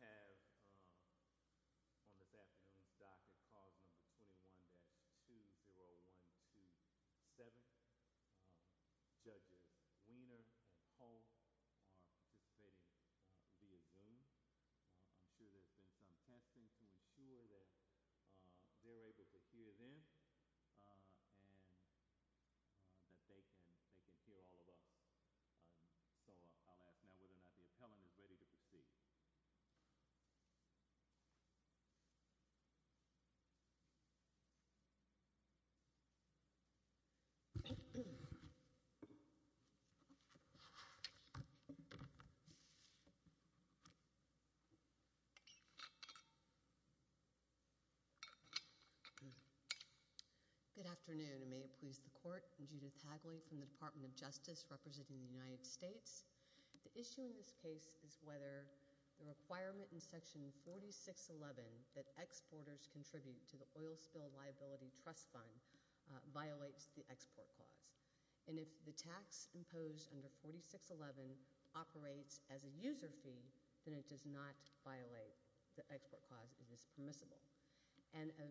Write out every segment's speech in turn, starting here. We have on this afternoon's docket card number 21-20127, judges Weiner and Holt are participating via Zoom. I'm sure there's been some testing to ensure that they're able to hear them and that they can hear all of us. So I'll ask now whether or not the appellant is ready to proceed. Good afternoon, and may it please the court. And if the tax imposed under 4611 operates as a user fee, then it does not violate the export clause. It is permissible. And a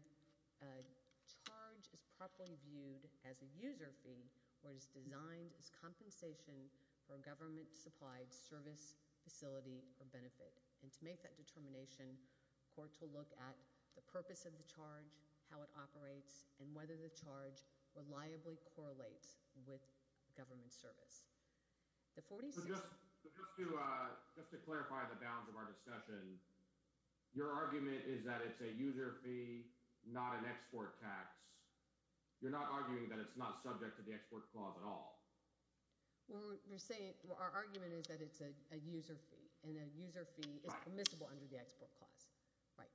charge is properly viewed as a user fee where it is designed as compensation for a government-supplied service, facility, or benefit. And to make that determination, the court will look at the purpose of the charge, how it operates, and whether the charge reliably correlates with government service. Just to clarify the bounds of our discussion, your argument is that it's a user fee, not an export tax. You're not arguing that it's not subject to the export clause at all. Well, our argument is that it's a user fee, and a user fee is permissible under the export clause. Right.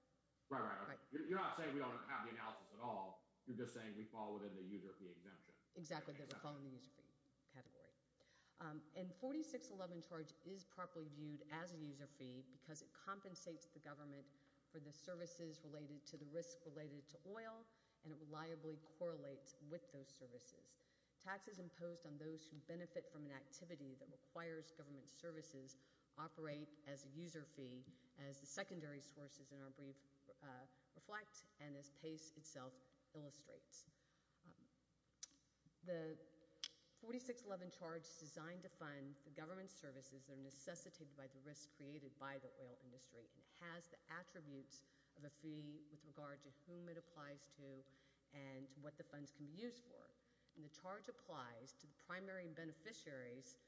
Right, right. You're not saying we don't have the analysis at all. You're just saying we fall within the user fee exemption. Exactly, that we fall in the user fee category. And 4611 charge is properly viewed as a user fee because it compensates the government for the services related to the risk related to oil, and it reliably correlates with those services. Taxes imposed on those who benefit from an activity that requires government services operate as a user fee, as the secondary sources in our brief reflect, and as PACE itself illustrates. The 4611 charge is designed to fund the government services that are necessitated by the risk created by the oil industry, and has the attributes of a fee with regard to whom it applies to and what the funds can be used for. And the charge applies to the primary beneficiaries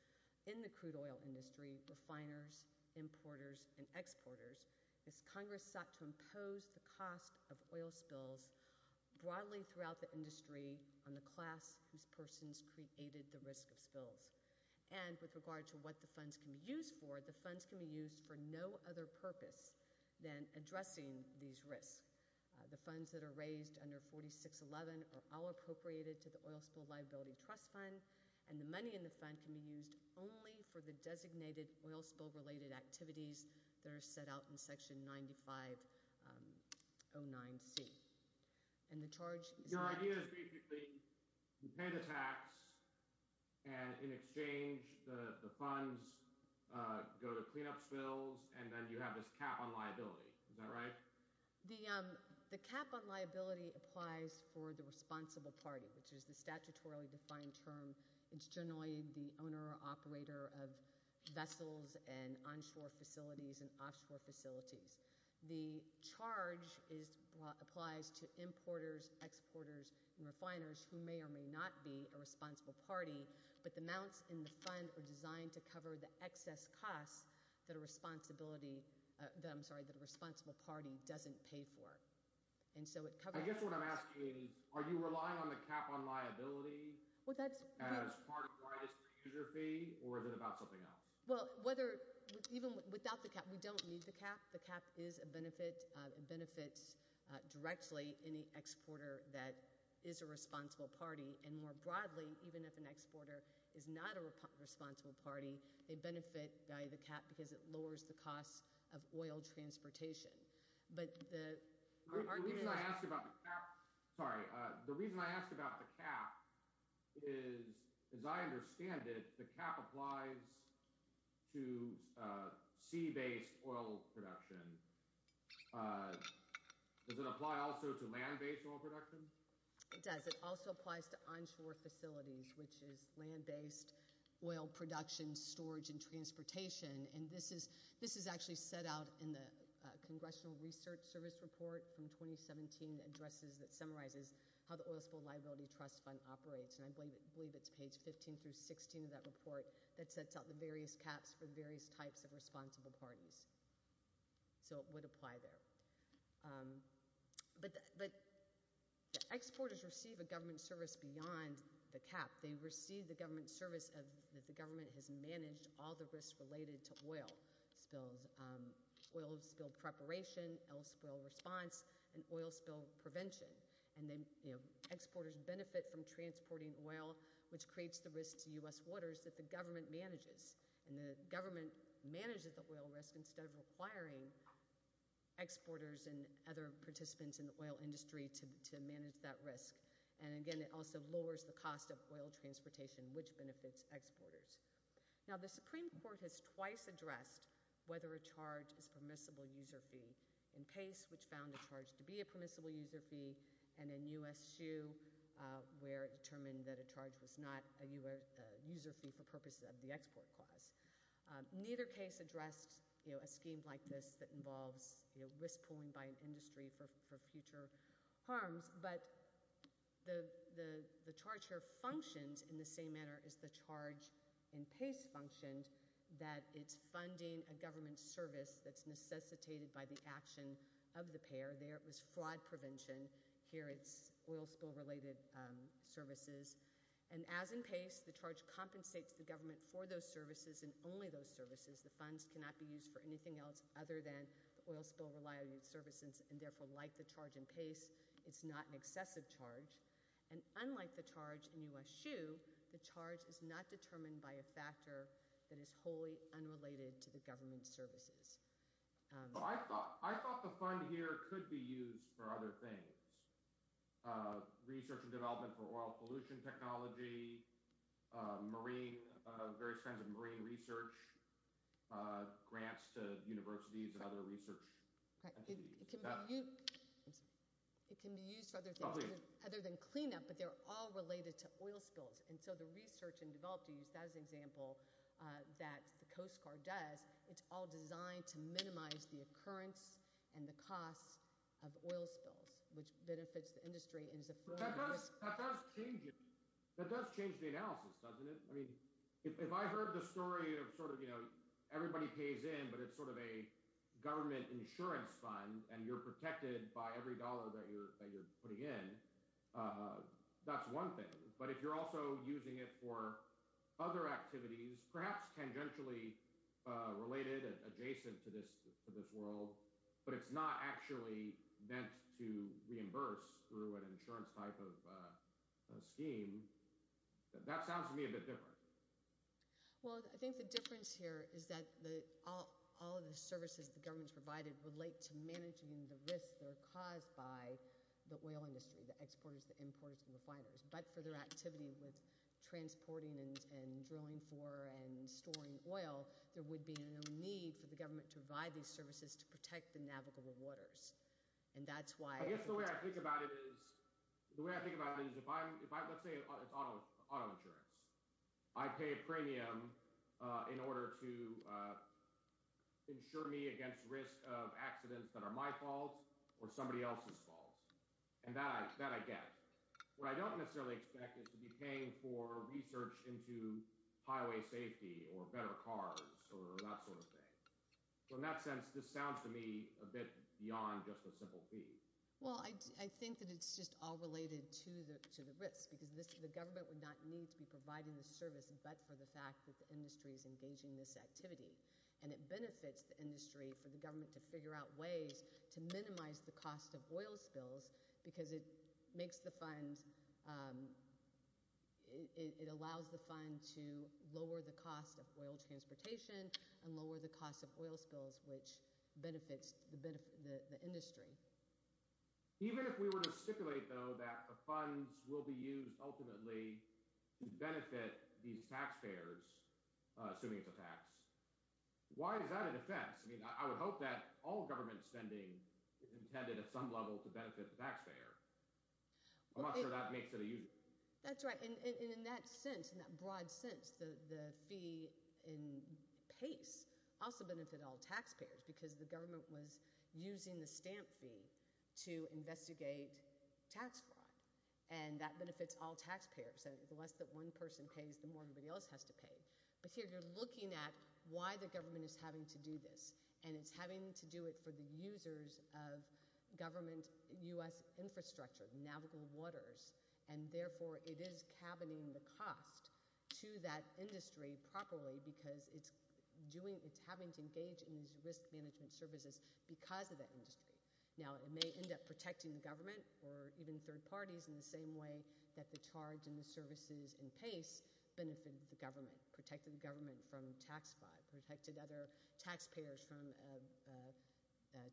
in the crude oil industry, refiners, importers, and exporters, as Congress sought to impose the cost of oil spills broadly throughout the industry on the class whose persons created the risk of spills. And with regard to what the funds can be used for, the funds can be used for no other purpose than addressing these risks. The funds that are raised under 4611 are all appropriated to the Oil Spill Liability Trust Fund, and the money in the fund can be used only for the designated oil spill related activities that are set out in Section 9509C. And the charge is that— Your idea is briefly, you pay the tax, and in exchange, the funds go to cleanup spills, and then you have this cap on liability. Is that right? The cap on liability applies for the responsible party, which is the statutorily defined term. It's generally the owner or operator of vessels and onshore facilities and offshore facilities. The charge applies to importers, exporters, and refiners who may or may not be a responsible party, but the amounts in the fund are designed to cover the excess costs that a responsible party doesn't pay for. And so it covers— I guess what I'm asking is, are you relying on the cap on liability as part of the user fee, or is it about something else? Well, whether—even without the cap, we don't need the cap. The cap is a benefit. It benefits directly any exporter that is a responsible party. And more broadly, even if an exporter is not a responsible party, they benefit by the cap because it lowers the cost of oil transportation. The reason I asked about the cap is, as I understand it, the cap applies to sea-based oil production. Does it apply also to land-based oil production? It does. It also applies to onshore facilities, which is land-based oil production, storage, and transportation. And this is actually set out in the Congressional Research Service Report from 2017 that summarizes how the Oil Spill Liability Trust Fund operates. And I believe it's page 15 through 16 of that report that sets out the various caps for the various types of responsible parties. So it would apply there. But exporters receive a government service beyond the cap. They receive the government service that the government has managed all the risks related to oil spills—oil spill preparation, oil spill response, and oil spill prevention. And exporters benefit from transporting oil, which creates the risk to U.S. waters that the government manages. And the government manages the oil risk instead of requiring exporters and other participants in the oil industry to manage that risk. And again, it also lowers the cost of oil transportation, which benefits exporters. Now, the Supreme Court has twice addressed whether a charge is permissible user fee. In Pace, which found a charge to be a permissible user fee, and in U.S. SHU, where it determined that a charge was not a user fee for purposes of the export clause. Neither case addressed a scheme like this that involves risk pooling by an industry for future harms. But the charge here functions in the same manner as the charge in Pace functioned, that it's funding a government service that's necessitated by the action of the payer. There it was fraud prevention. Here it's oil spill-related services. And as in Pace, the charge compensates the government for those services and only those services. The funds cannot be used for anything else other than the oil spill-related services. And therefore, like the charge in Pace, it's not an excessive charge. And unlike the charge in U.S. SHU, the charge is not determined by a factor that is wholly unrelated to the government services. I thought the fund here could be used for other things. Research and development for oil pollution technology, marine, various kinds of marine research, grants to universities and other research entities. It can be used for other things other than cleanup, but they're all related to oil spills. And so the research and development used as an example that the Coast Guard does, it's all designed to minimize the occurrence and the cost of oil spills, which benefits the industry. But that does change it. That does change the analysis, doesn't it? I mean if I heard the story of sort of, you know, everybody pays in, but it's sort of a government insurance fund, and you're protected by every dollar that you're putting in, that's one thing. But if you're also using it for other activities, perhaps tangentially related and adjacent to this world, but it's not actually meant to reimburse through an insurance type of scheme, that sounds to me a bit different. Well, I think the difference here is that all of the services the government's provided relate to managing the risks that are caused by the oil industry, the exporters, the importers, and the refiners. But for their activity with transporting and drilling for and storing oil, there would be no need for the government to provide these services to protect the navigable waters. I guess the way I think about it is, let's say it's auto insurance. I pay a premium in order to insure me against risk of accidents that are my fault or somebody else's fault. And that I get. What I don't necessarily expect is to be paying for research into highway safety or better cars or that sort of thing. So in that sense, this sounds to me a bit beyond just a simple fee. Well, I think that it's just all related to the risk because the government would not need to be providing the service but for the fact that the industry is engaging this activity. And it benefits the industry for the government to figure out ways to minimize the cost of oil spills because it makes the fund – it allows the fund to lower the cost of oil transportation and lower the cost of oil spills, which benefits the industry. Even if we were to stipulate, though, that the funds will be used ultimately to benefit these taxpayers, assuming it's a tax, why is that a defense? I would hope that all government spending is intended at some level to benefit the taxpayer. I'm not sure that makes it a usual. That's right. And in that sense, in that broad sense, the fee in PACE also benefited all taxpayers because the government was using the stamp fee to investigate tax fraud. And that benefits all taxpayers. The less that one person pays, the more everybody else has to pay. But here you're looking at why the government is having to do this. And it's having to do it for the users of government U.S. infrastructure, navigable waters. And therefore, it is cabining the cost to that industry properly because it's doing – it's having to engage in these risk management services because of that industry. Now, it may end up protecting the government or even third parties in the same way that the charge and the services in PACE benefited the government, protected the government from tax fraud, protected other taxpayers from a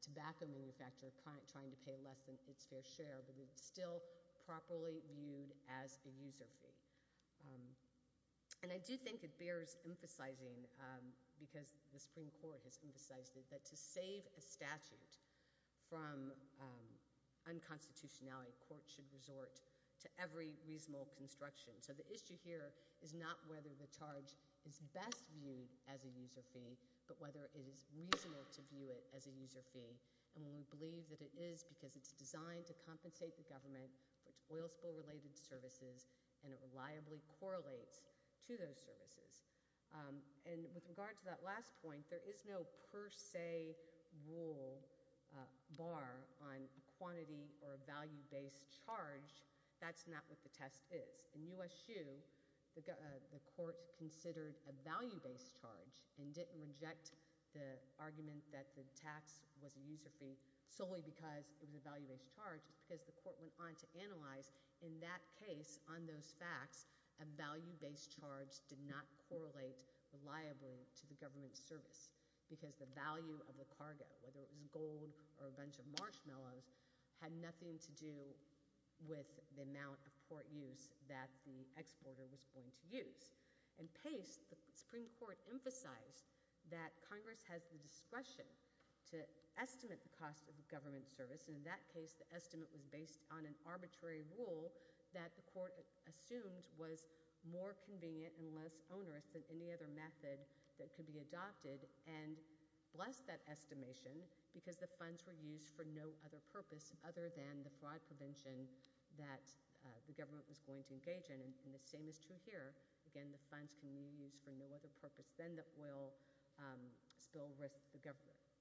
tobacco manufacturer trying to pay less than its fair share. But it's still properly viewed as a user fee. And I do think it bears emphasizing, because the Supreme Court has emphasized it, that to save a statute from unconstitutionality, courts should resort to every reasonable construction. So the issue here is not whether the charge is best viewed as a user fee but whether it is reasonable to view it as a user fee. And we believe that it is because it's designed to compensate the government for its oil spill-related services, and it reliably correlates to those services. And with regard to that last point, there is no per se rule bar on quantity or a value-based charge. That's not what the test is. In U.S. SHU, the court considered a value-based charge and didn't reject the argument that the tax was a user fee solely because it was a value-based charge. It's because the court went on to analyze, in that case, on those facts, a value-based charge did not correlate reliably to the government's service because the value of the cargo, whether it was gold or a bunch of marshmallows, had nothing to do with the amount of port use that the exporter was going to use. In PACE, the Supreme Court emphasized that Congress has the discretion to estimate the cost of government service. And in that case, the estimate was based on an arbitrary rule that the court assumed was more convenient and less onerous than any other method that could be adopted and blessed that estimation because the funds were used for no other purpose other than the fraud prevention that the government was going to engage in. And the same is true here. Again, the funds can be used for no other purpose than the oil spill risk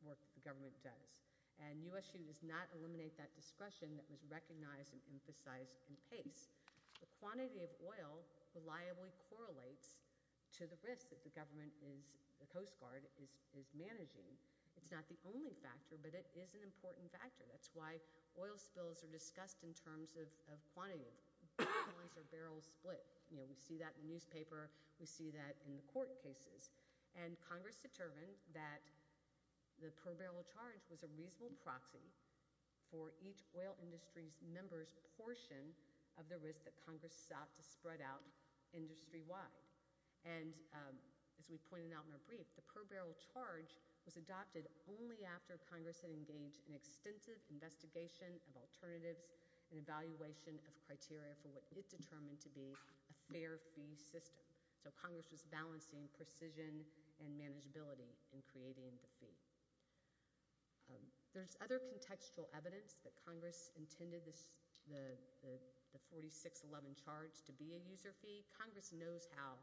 work that the government does. And U.S. SHU does not eliminate that discretion that was recognized and emphasized in PACE. The quantity of oil reliably correlates to the risk that the government, the Coast Guard, is managing. It's not the only factor, but it is an important factor. That's why oil spills are discussed in terms of quantity. Barrels are barrel split. We see that in the newspaper. We see that in the court cases. And Congress determined that the per barrel charge was a reasonable proxy for each oil industry member's portion of the risk that Congress sought to spread out industry-wide. And as we pointed out in our brief, the per barrel charge was adopted only after Congress had engaged in extensive investigation of alternatives and evaluation of criteria for what it determined to be a fair fee system. So Congress was balancing precision and manageability in creating the fee. There's other contextual evidence that Congress intended the 4611 charge to be a user fee. Congress knows how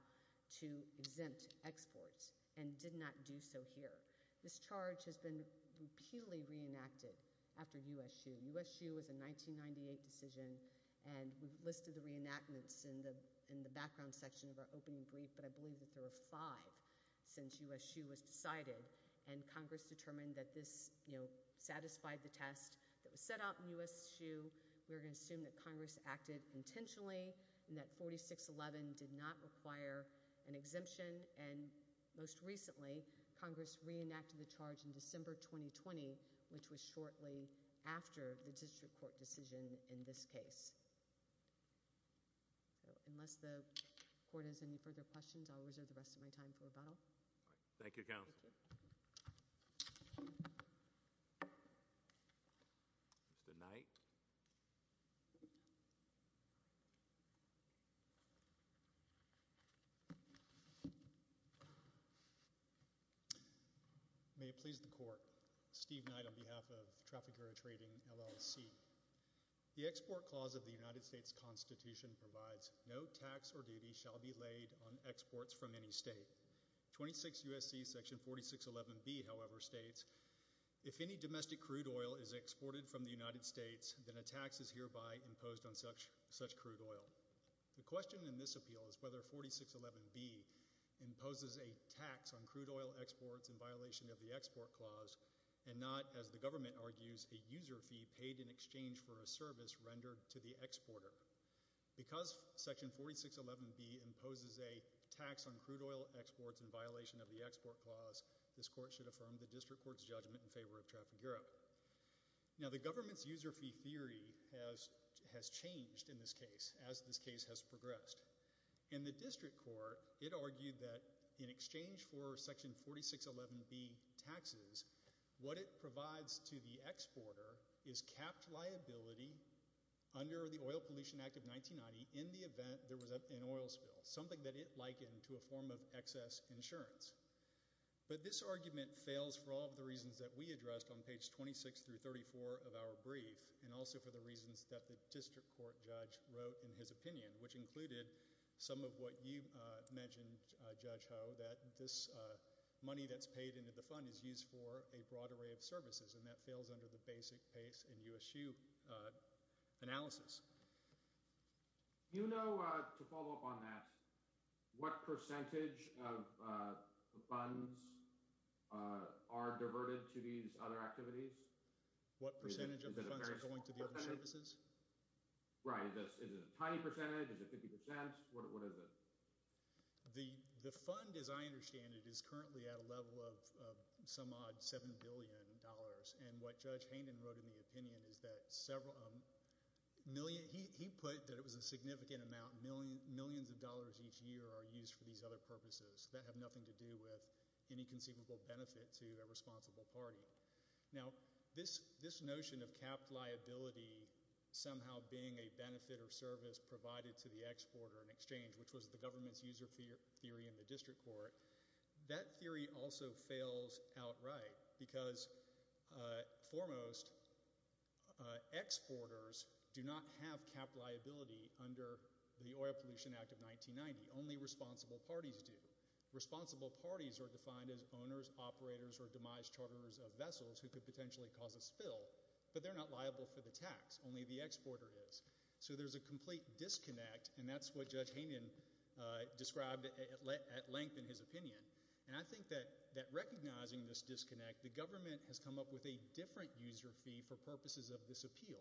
to exempt exports and did not do so here. This charge has been repeatedly reenacted after U.S. SHU. U.S. SHU was a 1998 decision, and we've listed the reenactments in the background section of our opening brief, but I believe that there were five since U.S. SHU was decided. And Congress determined that this satisfied the test that was set out in U.S. SHU. We're going to assume that Congress acted intentionally and that 4611 did not require an exemption. And most recently, Congress reenacted the charge in December 2020, which was shortly after the district court decision in this case. So unless the court has any further questions, I'll reserve the rest of my time for rebuttal. Thank you, counsel. Mr. Knight. May it please the court. Steve Knight on behalf of Traffic Area Trading LLC. The export clause of the United States Constitution provides no tax or duty shall be laid on exports from any state. 26 U.S.C. section 4611B, however, states, if any domestic crude oil is exported from the United States, then a tax is hereby imposed on such crude oil. The question in this appeal is whether 4611B imposes a tax on crude oil exports in violation of the export clause and not, as the government argues, a user fee paid in exchange for a service rendered to the exporter. Because section 4611B imposes a tax on crude oil exports in violation of the export clause, this court should affirm the district court's judgment in favor of Traffic Europe. Now, the government's user fee theory has changed in this case, as this case has progressed. In the district court, it argued that in exchange for section 4611B taxes, what it provides to the exporter is capped liability under the Oil Pollution Act of 1990 in the event there was an oil spill, something that it likened to a form of excess insurance. But this argument fails for all of the reasons that we addressed on page 26 through 34 of our brief and also for the reasons that the district court judge wrote in his opinion, which included some of what you mentioned, Judge Ho, that this money that's paid into the fund is used for a broad array of services, and that fails under the basic PACE and USU analysis. Do you know, to follow up on that, what percentage of funds are diverted to these other activities? What percentage of the funds are going to the other services? Right. Is it a tiny percentage? Is it 50%? What is it? The fund, as I understand it, is currently at a level of some odd $7 billion. And what Judge Hayden wrote in the opinion is that several – he put that it was a significant amount, millions of dollars each year are used for these other purposes that have nothing to do with any conceivable benefit to a responsible party. Now, this notion of capped liability somehow being a benefit or service provided to the exporter in exchange, which was the government's user theory in the district court, that theory also fails outright because foremost exporters do not have capped liability under the Oil Pollution Act of 1990. Only responsible parties do. Responsible parties are defined as owners, operators, or demise charters of vessels who could potentially cause a spill, but they're not liable for the tax. Only the exporter is. So there's a complete disconnect, and that's what Judge Hayden described at length in his opinion. And I think that recognizing this disconnect, the government has come up with a different user fee for purposes of this appeal.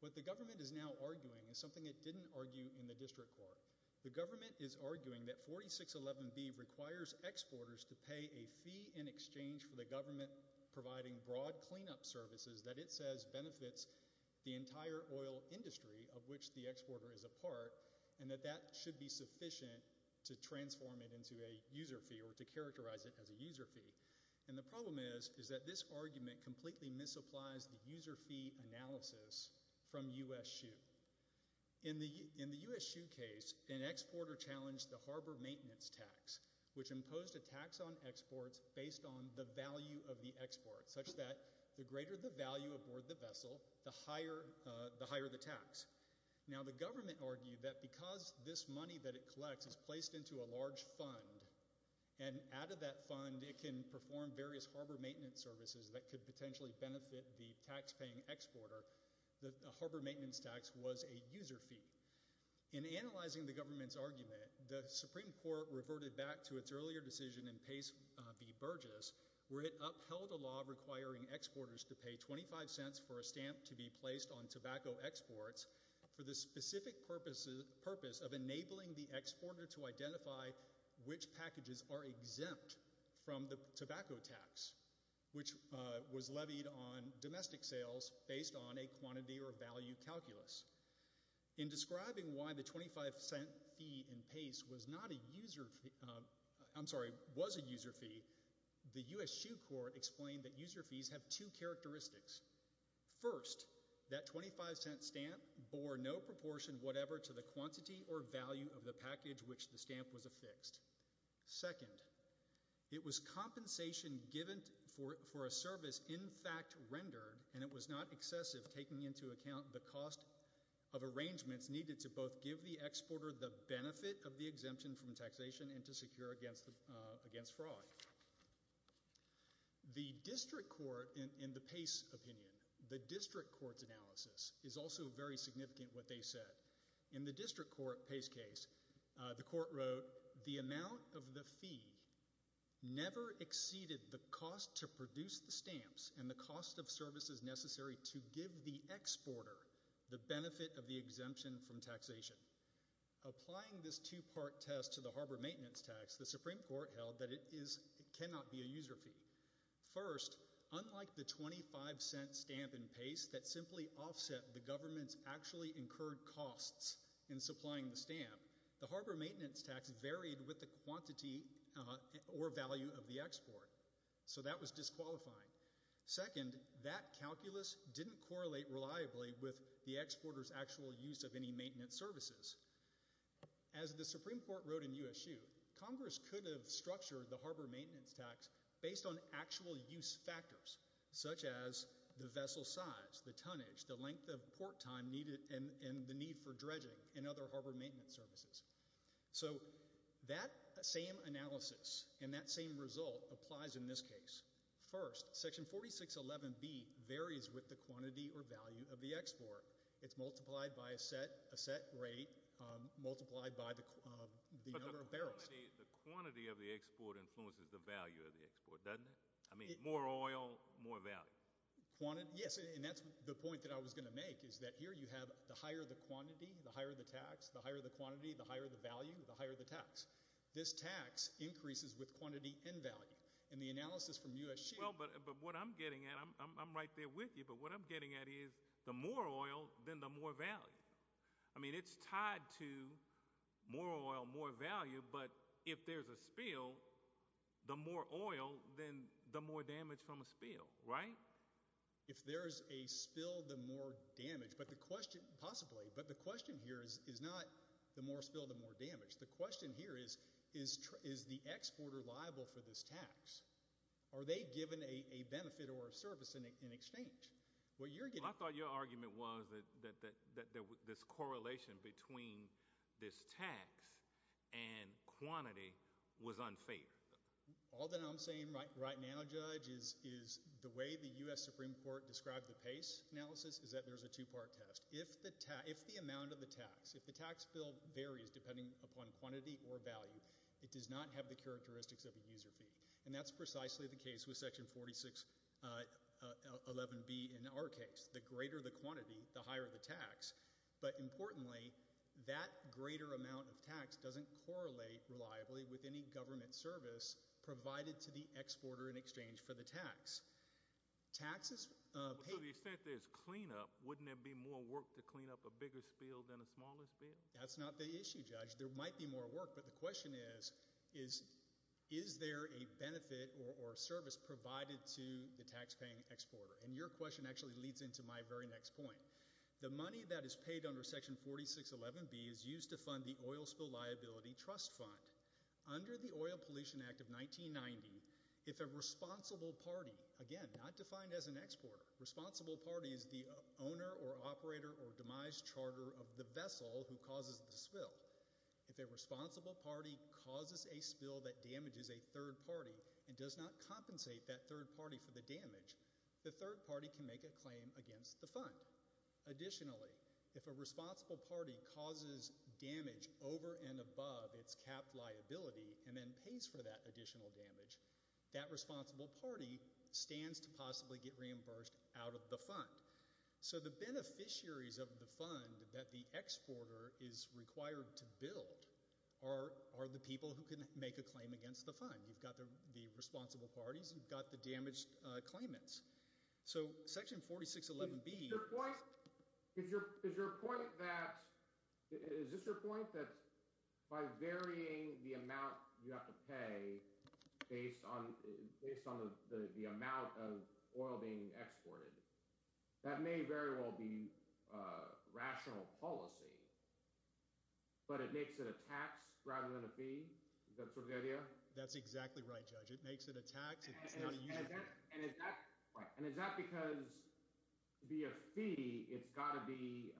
What the government is now arguing is something it didn't argue in the district court. The government is arguing that 4611B requires exporters to pay a fee in exchange for the government providing broad cleanup services that it says benefits the entire oil industry of which the exporter is a part and that that should be sufficient to transform it into a user fee or to characterize it as a user fee. And the problem is is that this argument completely misapplies the user fee analysis from U.S. SHU. In the U.S. SHU case, an exporter challenged the harbor maintenance tax which imposed a tax on exports based on the value of the export such that the greater the value aboard the vessel, the higher the tax. Now, the government argued that because this money that it collects is placed into a large fund and out of that fund it can perform various harbor maintenance services that could potentially benefit the taxpaying exporter, the harbor maintenance tax was a user fee. In analyzing the government's argument, the Supreme Court reverted back to its earlier decision in Pace v. Burgess where it upheld a law requiring exporters to pay 25 cents for a stamp to be placed on tobacco exports for the specific purpose of enabling the exporter to identify which packages are exempt from the tobacco tax which was levied on domestic sales based on a quantity or value calculus. In describing why the 25 cent fee in Pace was not a user fee, I'm sorry, was a user fee, the U.S. SHU court explained that user fees have two characteristics. First, that 25 cent stamp bore no proportion whatever to the quantity or value of the package which the stamp was affixed. Second, it was compensation given for a service in fact rendered and it was not excessive taking into account the cost of arrangements needed to both give the exporter the benefit of the exemption from taxation and to secure against fraud. The district court in the Pace opinion, the district court's analysis is also very significant what they said. In the district court Pace case, the court wrote the amount of the fee never exceeded the cost to produce the stamps and the cost of services necessary to give the exporter the benefit of the exemption from taxation. Applying this two part test to the harbor maintenance tax, the supreme court held that it cannot be a user fee. First, unlike the 25 cent stamp in Pace that simply offset the government's actually incurred costs in supplying the stamp, the harbor maintenance tax varied with the quantity or value of the export. So that was disqualifying. Second, that calculus didn't correlate reliably with the exporter's actual use of any maintenance services. As the supreme court wrote in USU, congress could have structured the harbor maintenance tax based on actual use factors such as the vessel size, the tonnage, the length of port time needed and the need for dredging and other harbor maintenance services. So that same analysis and that same result applies in this case. First, section 4611B varies with the quantity or value of the export. It's multiplied by a set rate, multiplied by the number of barrels. But the quantity of the export influences the value of the export, doesn't it? I mean more oil, more value. Yes, and that's the point that I was going to make is that here you have the higher the quantity, the higher the tax, the higher the quantity, the higher the value, the higher the tax. This tax increases with quantity and value. In the analysis from USU- Well, but what I'm getting at, I'm right there with you, but what I'm getting at is the more oil, then the more value. I mean it's tied to more oil, more value, but if there's a spill, the more oil, then the more damage from a spill, right? If there's a spill, the more damage, possibly, but the question here is not the more spill, the more damage. The question here is, is the exporter liable for this tax? Are they given a benefit or a service in exchange? I thought your argument was that this correlation between this tax and quantity was unfair. All that I'm saying right now, Judge, is the way the US Supreme Court described the PACE analysis is that there's a two-part test. If the amount of the tax, if the tax bill varies depending upon quantity or value, it does not have the characteristics of a user fee. That's precisely the case with Section 4611B in our case. The greater the quantity, the higher the tax, but importantly, that greater amount of tax doesn't correlate reliably with any government service provided to the exporter in exchange for the tax. Taxes- To the extent there's cleanup, wouldn't there be more work to clean up a bigger spill than a smaller spill? That's not the issue, Judge. There might be more work, but the question is, is there a benefit or service provided to the taxpaying exporter? And your question actually leads into my very next point. The money that is paid under Section 4611B is used to fund the Oil Spill Liability Trust Fund. Under the Oil Pollution Act of 1990, if a responsible party, again, not defined as an exporter, responsible party is the owner or operator or demise charter of the vessel who causes the spill. If a responsible party causes a spill that damages a third party and does not compensate that third party for the damage, the third party can make a claim against the fund. Additionally, if a responsible party causes damage over and above its capped liability and then pays for that additional damage, that responsible party stands to possibly get reimbursed out of the fund. So the beneficiaries of the fund that the exporter is required to build are the people who can make a claim against the fund. You've got the responsible parties. You've got the damaged claimants. So Section 4611B – Is your point that – is this your point? That by varying the amount you have to pay based on the amount of oil being exported, that may very well be rational policy, but it makes it a tax rather than a fee? Is that sort of the idea? That's exactly right, Judge. It makes it a tax. And is that because via fee it's got to be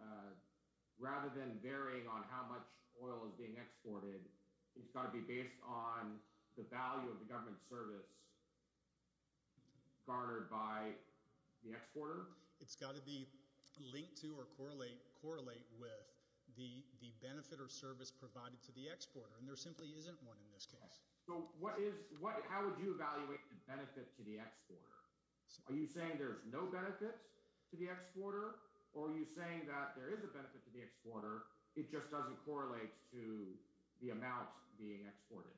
– rather than varying on how much oil is being exported, it's got to be based on the value of the government service garnered by the exporter? It's got to be linked to or correlate with the benefit or service provided to the exporter, and there simply isn't one in this case. So what is – how would you evaluate the benefit to the exporter? Are you saying there's no benefits to the exporter, or are you saying that there is a benefit to the exporter, it just doesn't correlate to the amount being exported?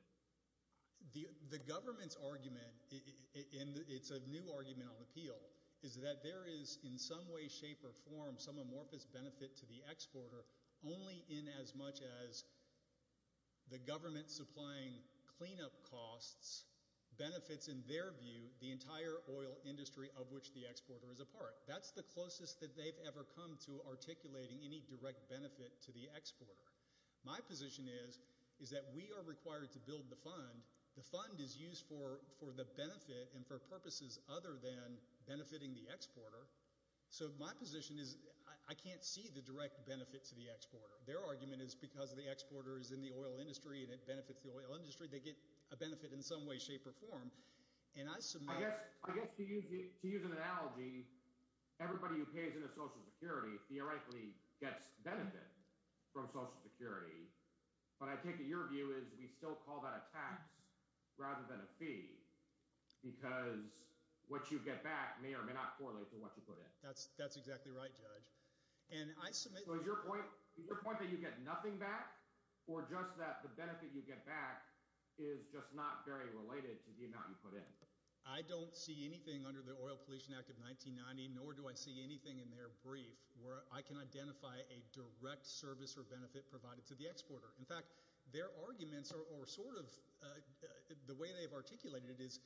The government's argument – and it's a new argument on appeal – is that there is in some way, shape or form some amorphous benefit to the exporter only in as much as the government supplying cleanup costs benefits, in their view, the entire oil industry of which the exporter is a part. That's the closest that they've ever come to articulating any direct benefit to the exporter. My position is that we are required to build the fund. The fund is used for the benefit and for purposes other than benefiting the exporter. So my position is I can't see the direct benefit to the exporter. Their argument is because the exporter is in the oil industry and it benefits the oil industry, they get a benefit in some way, shape or form. I guess to use an analogy, everybody who pays into Social Security theoretically gets benefit from Social Security. But I take it your view is we still call that a tax rather than a fee because what you get back may or may not correlate to what you put in. So is your point that you get nothing back or just that the benefit you get back is just not very related to the amount you put in? I don't see anything under the Oil Pollution Act of 1990, nor do I see anything in their brief where I can identify a direct service or benefit provided to the exporter. In fact, their arguments are sort of – the way they've articulated it is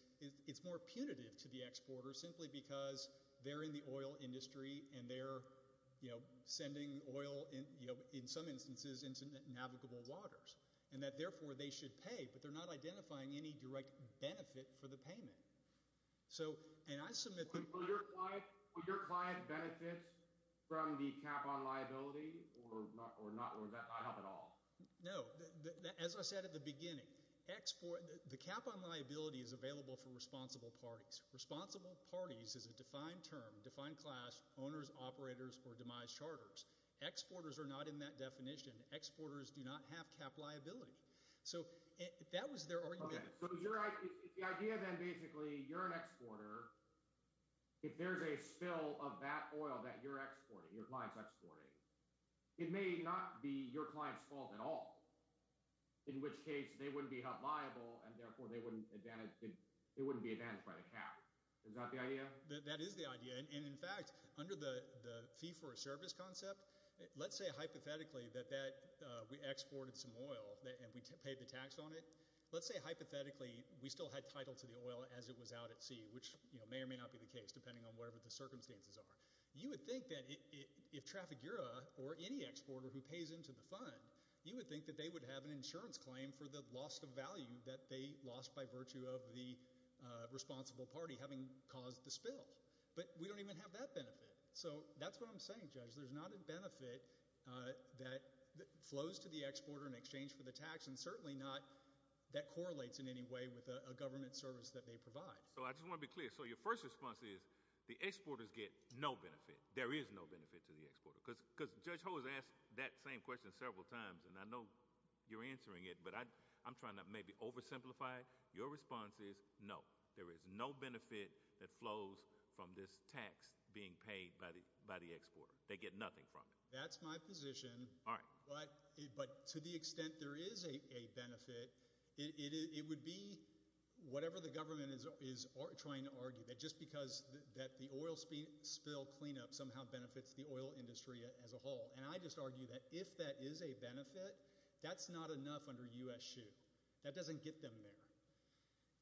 it's more punitive to the exporter simply because they're in the oil industry and they're sending oil in some instances into navigable waters and that therefore they should pay. But they're not identifying any direct benefit for the payment. Will your client benefit from the cap on liability or not at all? No. As I said at the beginning, the cap on liability is available for responsible parties. Responsible parties is a defined term, defined class, owners, operators or demise charters. Exporters are not in that definition. Exporters do not have cap liability. So that was their argument. So the idea then basically, you're an exporter. If there's a spill of that oil that you're exporting, your client's exporting, it may not be your client's fault at all, in which case they wouldn't be held liable and therefore they wouldn't be advantaged by the cap. Is that the idea? That is the idea. In fact, under the fee for a service concept, let's say hypothetically that we exported some oil and we paid the tax on it. Let's say hypothetically we still had title to the oil as it was out at sea, which may or may not be the case, depending on whatever the circumstances are. You would think that if Trafigura or any exporter who pays into the fund, you would think that they would have an insurance claim for the loss of value that they lost by virtue of the responsible party having caused the spill. But we don't even have that benefit. So that's what I'm saying, Judge. There's not a benefit that flows to the exporter in exchange for the tax, and certainly not that correlates in any way with a government service that they provide. So I just want to be clear. So your first response is the exporters get no benefit. There is no benefit to the exporter. Because Judge Ho has asked that same question several times, and I know you're answering it, but I'm trying to maybe oversimplify. Your response is no, there is no benefit that flows from this tax being paid by the exporter. They get nothing from it. That's my position. All right. But to the extent there is a benefit, it would be whatever the government is trying to argue, that just because that the oil spill cleanup somehow benefits the oil industry as a whole. And I just argue that if that is a benefit, that's not enough under U.S. SHU. That doesn't get them there.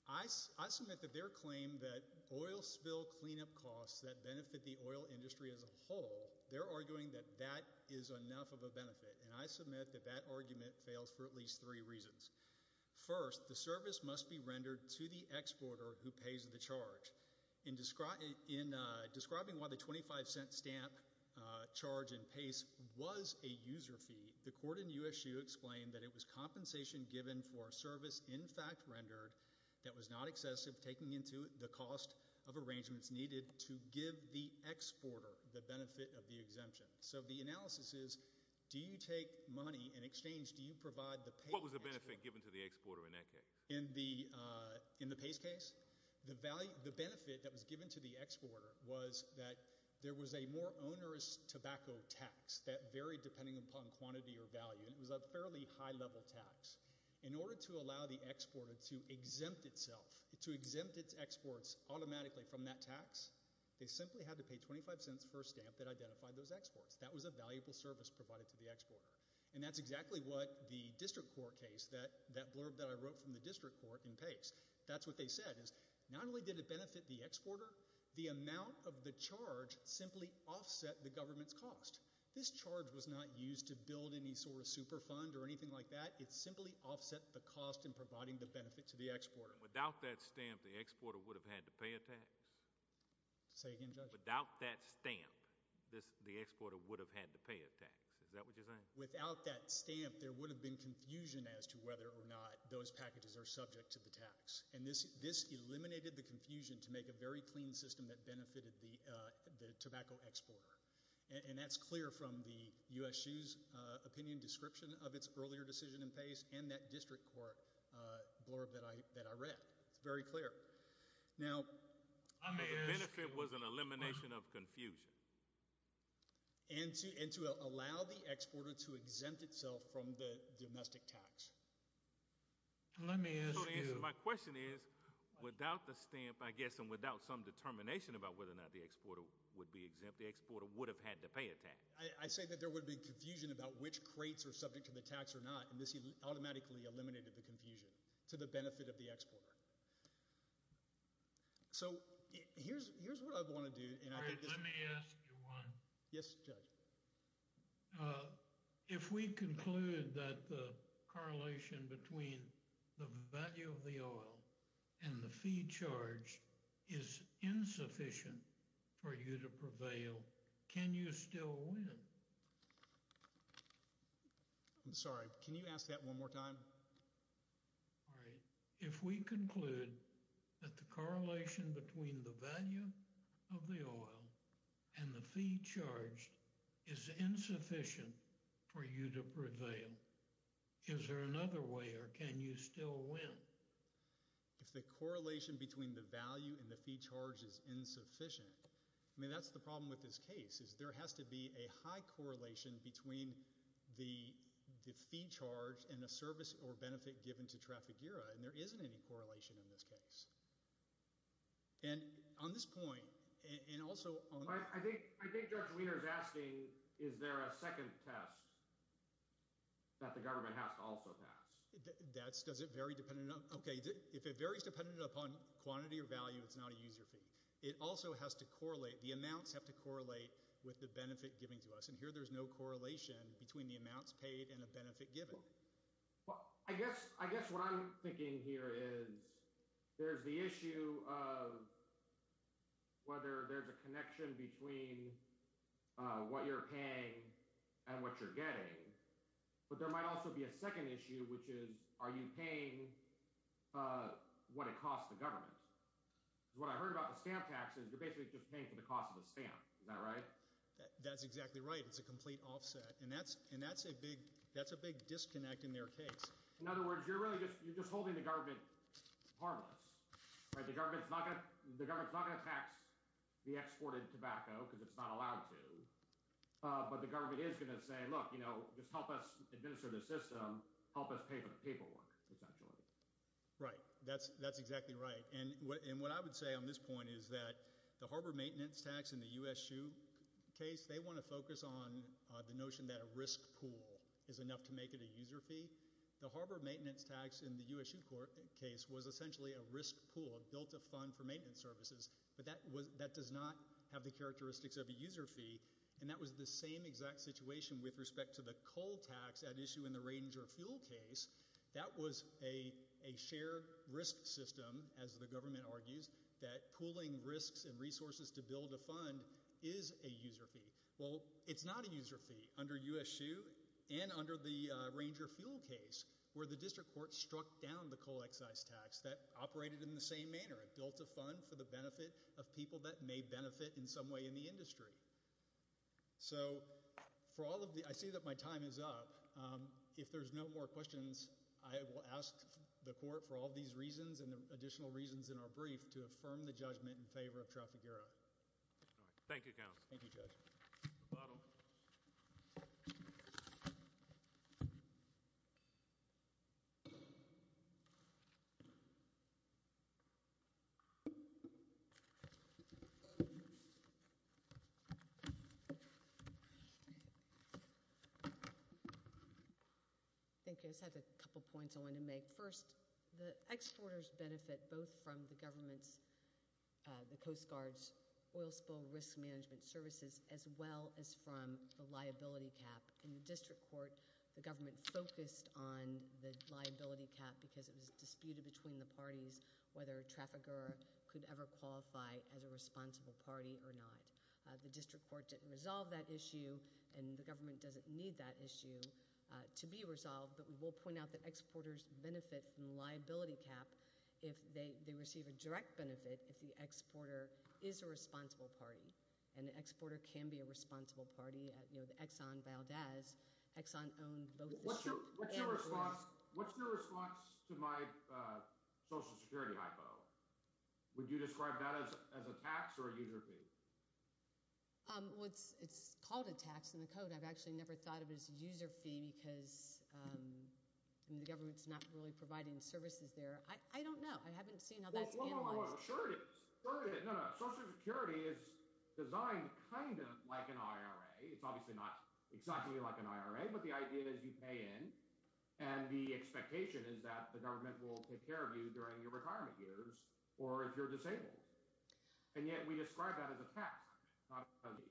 I submit that their claim that oil spill cleanup costs that benefit the oil industry as a whole, they're arguing that that is enough of a benefit, and I submit that that argument fails for at least three reasons. First, the service must be rendered to the exporter who pays the charge. In describing why the $0.25 stamp charge in PACE was a user fee, the court in U.S. SHU explained that it was compensation given for a service in fact rendered that was not excessive, taking into the cost of arrangements needed to give the exporter the benefit of the exemption. So the analysis is do you take money in exchange, do you provide the pay? What was the benefit given to the exporter in that case? In the PACE case, the benefit that was given to the exporter was that there was a more onerous tobacco tax that varied depending upon quantity or value, and it was a fairly high-level tax. In order to allow the exporter to exempt itself, to exempt its exports automatically from that tax, they simply had to pay $0.25 for a stamp that identified those exports. That was a valuable service provided to the exporter. And that's exactly what the district court case, that blurb that I wrote from the district court in PACE, that's what they said is not only did it benefit the exporter, the amount of the charge simply offset the government's cost. This charge was not used to build any sort of super fund or anything like that. It simply offset the cost in providing the benefit to the exporter. Without that stamp, the exporter would have had to pay a tax? Say again, Judge? Without that stamp, the exporter would have had to pay a tax. Is that what you're saying? Without that stamp, there would have been confusion as to whether or not those packages are subject to the tax. And this eliminated the confusion to make a very clean system that benefited the tobacco exporter. And that's clear from the USU's opinion description of its earlier decision in PACE and that district court blurb that I read. It's very clear. Now, the benefit was an elimination of confusion. And to allow the exporter to exempt itself from the domestic tax. My question is, without the stamp, I guess, and without some determination about whether or not the exporter would be exempt, the exporter would have had to pay a tax? I say that there would be confusion about which crates are subject to the tax or not. And this automatically eliminated the confusion to the benefit of the exporter. So here's what I want to do. Let me ask you one. Yes, Judge. If we conclude that the correlation between the value of the oil and the fee charged is insufficient for you to prevail, can you still win? I'm sorry. Can you ask that one more time? All right. If we conclude that the correlation between the value of the oil and the fee charged is insufficient for you to prevail, is there another way or can you still win? If the correlation between the value and the fee charged is insufficient, I mean, that's the problem with this case. There has to be a high correlation between the fee charged and the service or benefit given to Trafigura. And there isn't any correlation in this case. And on this point, and also on – I think Judge Wiener is asking, is there a second test that the government has to also pass? Does it vary depending on – okay. If it varies depending upon quantity or value, it's not a user fee. It also has to correlate. The amounts have to correlate with the benefit given to us. And here there's no correlation between the amounts paid and the benefit given. Well, I guess what I'm thinking here is there's the issue of whether there's a connection between what you're paying and what you're getting. But there might also be a second issue, which is are you paying what it costs the government? Because what I heard about the stamp tax is you're basically just paying for the cost of the stamp. Is that right? That's exactly right. It's a complete offset. And that's a big disconnect in their case. In other words, you're really just – you're just holding the government harmless. The government is not going to tax the exported tobacco because it's not allowed to. But the government is going to say, look, just help us administer the system, help us pay for the paperwork essentially. Right. That's exactly right. And what I would say on this point is that the Harbor Maintenance Tax in the U.S. SHU case, they want to focus on the notion that a risk pool is enough to make it a user fee. The Harbor Maintenance Tax in the U.S. SHU case was essentially a risk pool, a built-up fund for maintenance services. But that does not have the characteristics of a user fee. And that was the same exact situation with respect to the coal tax at issue in the Ranger Fuel case. That was a shared risk system, as the government argues, that pooling risks and resources to build a fund is a user fee. Well, it's not a user fee. Under U.S. SHU and under the Ranger Fuel case where the district court struck down the coal excise tax, that operated in the same manner. It built a fund for the benefit of people that may benefit in some way in the industry. So for all of the – I see that my time is up. If there's no more questions, I will ask the court for all of these reasons and the additional reasons in our brief to affirm the judgment in favor of Trafigura. Thank you, Counsel. Thank you, Judge. The bottom. I think I just have a couple points I want to make. First, the exporters benefit both from the government's – the Coast Guard's oil spill risk management services as well as from the liability cap. In the district court, the government focused on the liability cap because it was disputed between the parties whether Trafigura could ever qualify as a responsible party or not. The district court didn't resolve that issue, and the government doesn't need that issue to be resolved. But we will point out that exporters benefit from the liability cap if they receive a direct benefit if the exporter is a responsible party, and the exporter can be a responsible party. You know, the Exxon Valdez, Exxon owned both the – What's your response to my Social Security hypo? Would you describe that as a tax or a user fee? Well, it's called a tax in the code. I've actually never thought of it as a user fee because the government's not really providing services there. I don't know. I haven't seen how that's analyzed. No, no, no. Sure it is. No, no. Social Security is designed kind of like an IRA. It's obviously not exactly like an IRA, but the idea is you pay in, and the expectation is that the government will take care of you during your retirement years or if you're disabled. And yet we describe that as a tax, not a fee.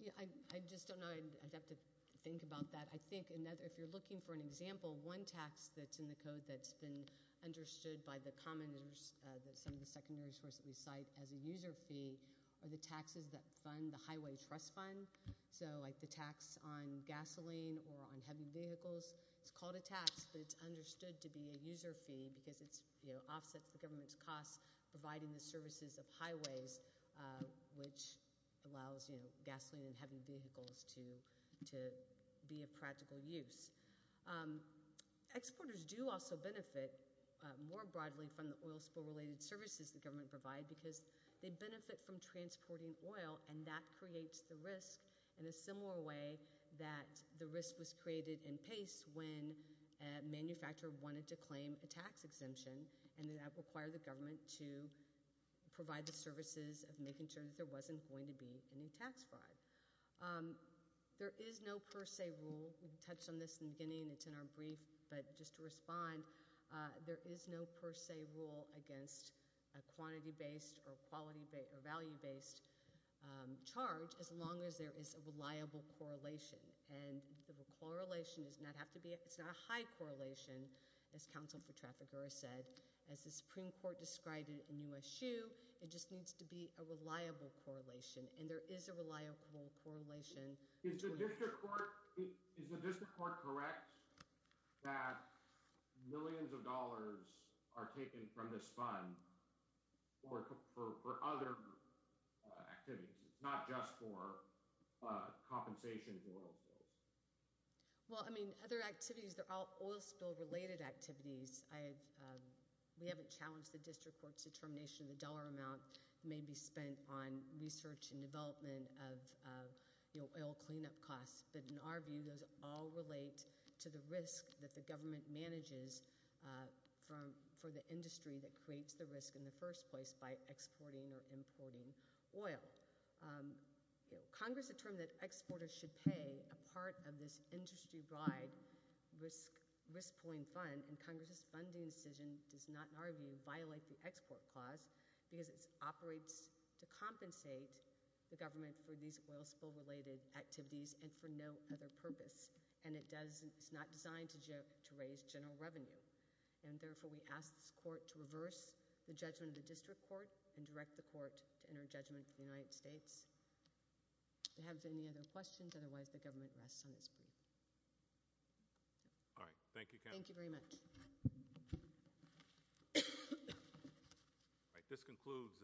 Yeah, I just don't know. I'd have to think about that. I think if you're looking for an example, one tax that's in the code that's been understood by the common – some of the secondary sources we cite as a user fee are the taxes that fund the highway trust fund. So like the tax on gasoline or on heavy vehicles, it's called a tax, but it's understood to be a user fee because it offsets the government's costs providing the services of highways, which allows gasoline and heavy vehicles to be of practical use. Exporters do also benefit more broadly from the oil spill-related services the government provide because they benefit from transporting oil, and that creates the risk in a similar way that the risk was created in PACE when a manufacturer wanted to claim a tax exemption and that required the government to provide the services of making sure that there wasn't going to be any tax fraud. There is no per se rule. We touched on this in the beginning, and it's in our brief, but just to respond, there is no per se rule against a quantity-based or value-based charge as long as there is a reliable correlation, and the correlation does not have to be – it's not a high correlation, as counsel for traffickers said. As the Supreme Court described it in U.S.U., it just needs to be a reliable correlation, and there is a reliable correlation. Is the district court correct that millions of dollars are taken from this fund for other activities? It's not just for compensation for oil spills. Well, I mean, other activities, they're all oil spill-related activities. We haven't challenged the district court's determination of the dollar amount that may be spent on research and development of oil cleanup costs, but in our view, those all relate to the risk that the government manages for the industry that creates the risk in the first place by exporting or importing oil. Congress determined that exporters should pay a part of this industry-wide risk-pulling fund, and Congress's funding decision does not, in our view, violate the export clause because it operates to compensate the government for these oil spill-related activities and for no other purpose, and it's not designed to raise general revenue. And therefore, we ask this court to reverse the judgment of the district court and direct the court to enter a judgment of the United States. If you have any other questions, otherwise the government rests on its brief. All right. Thank you. Thank you very much. All right. This concludes.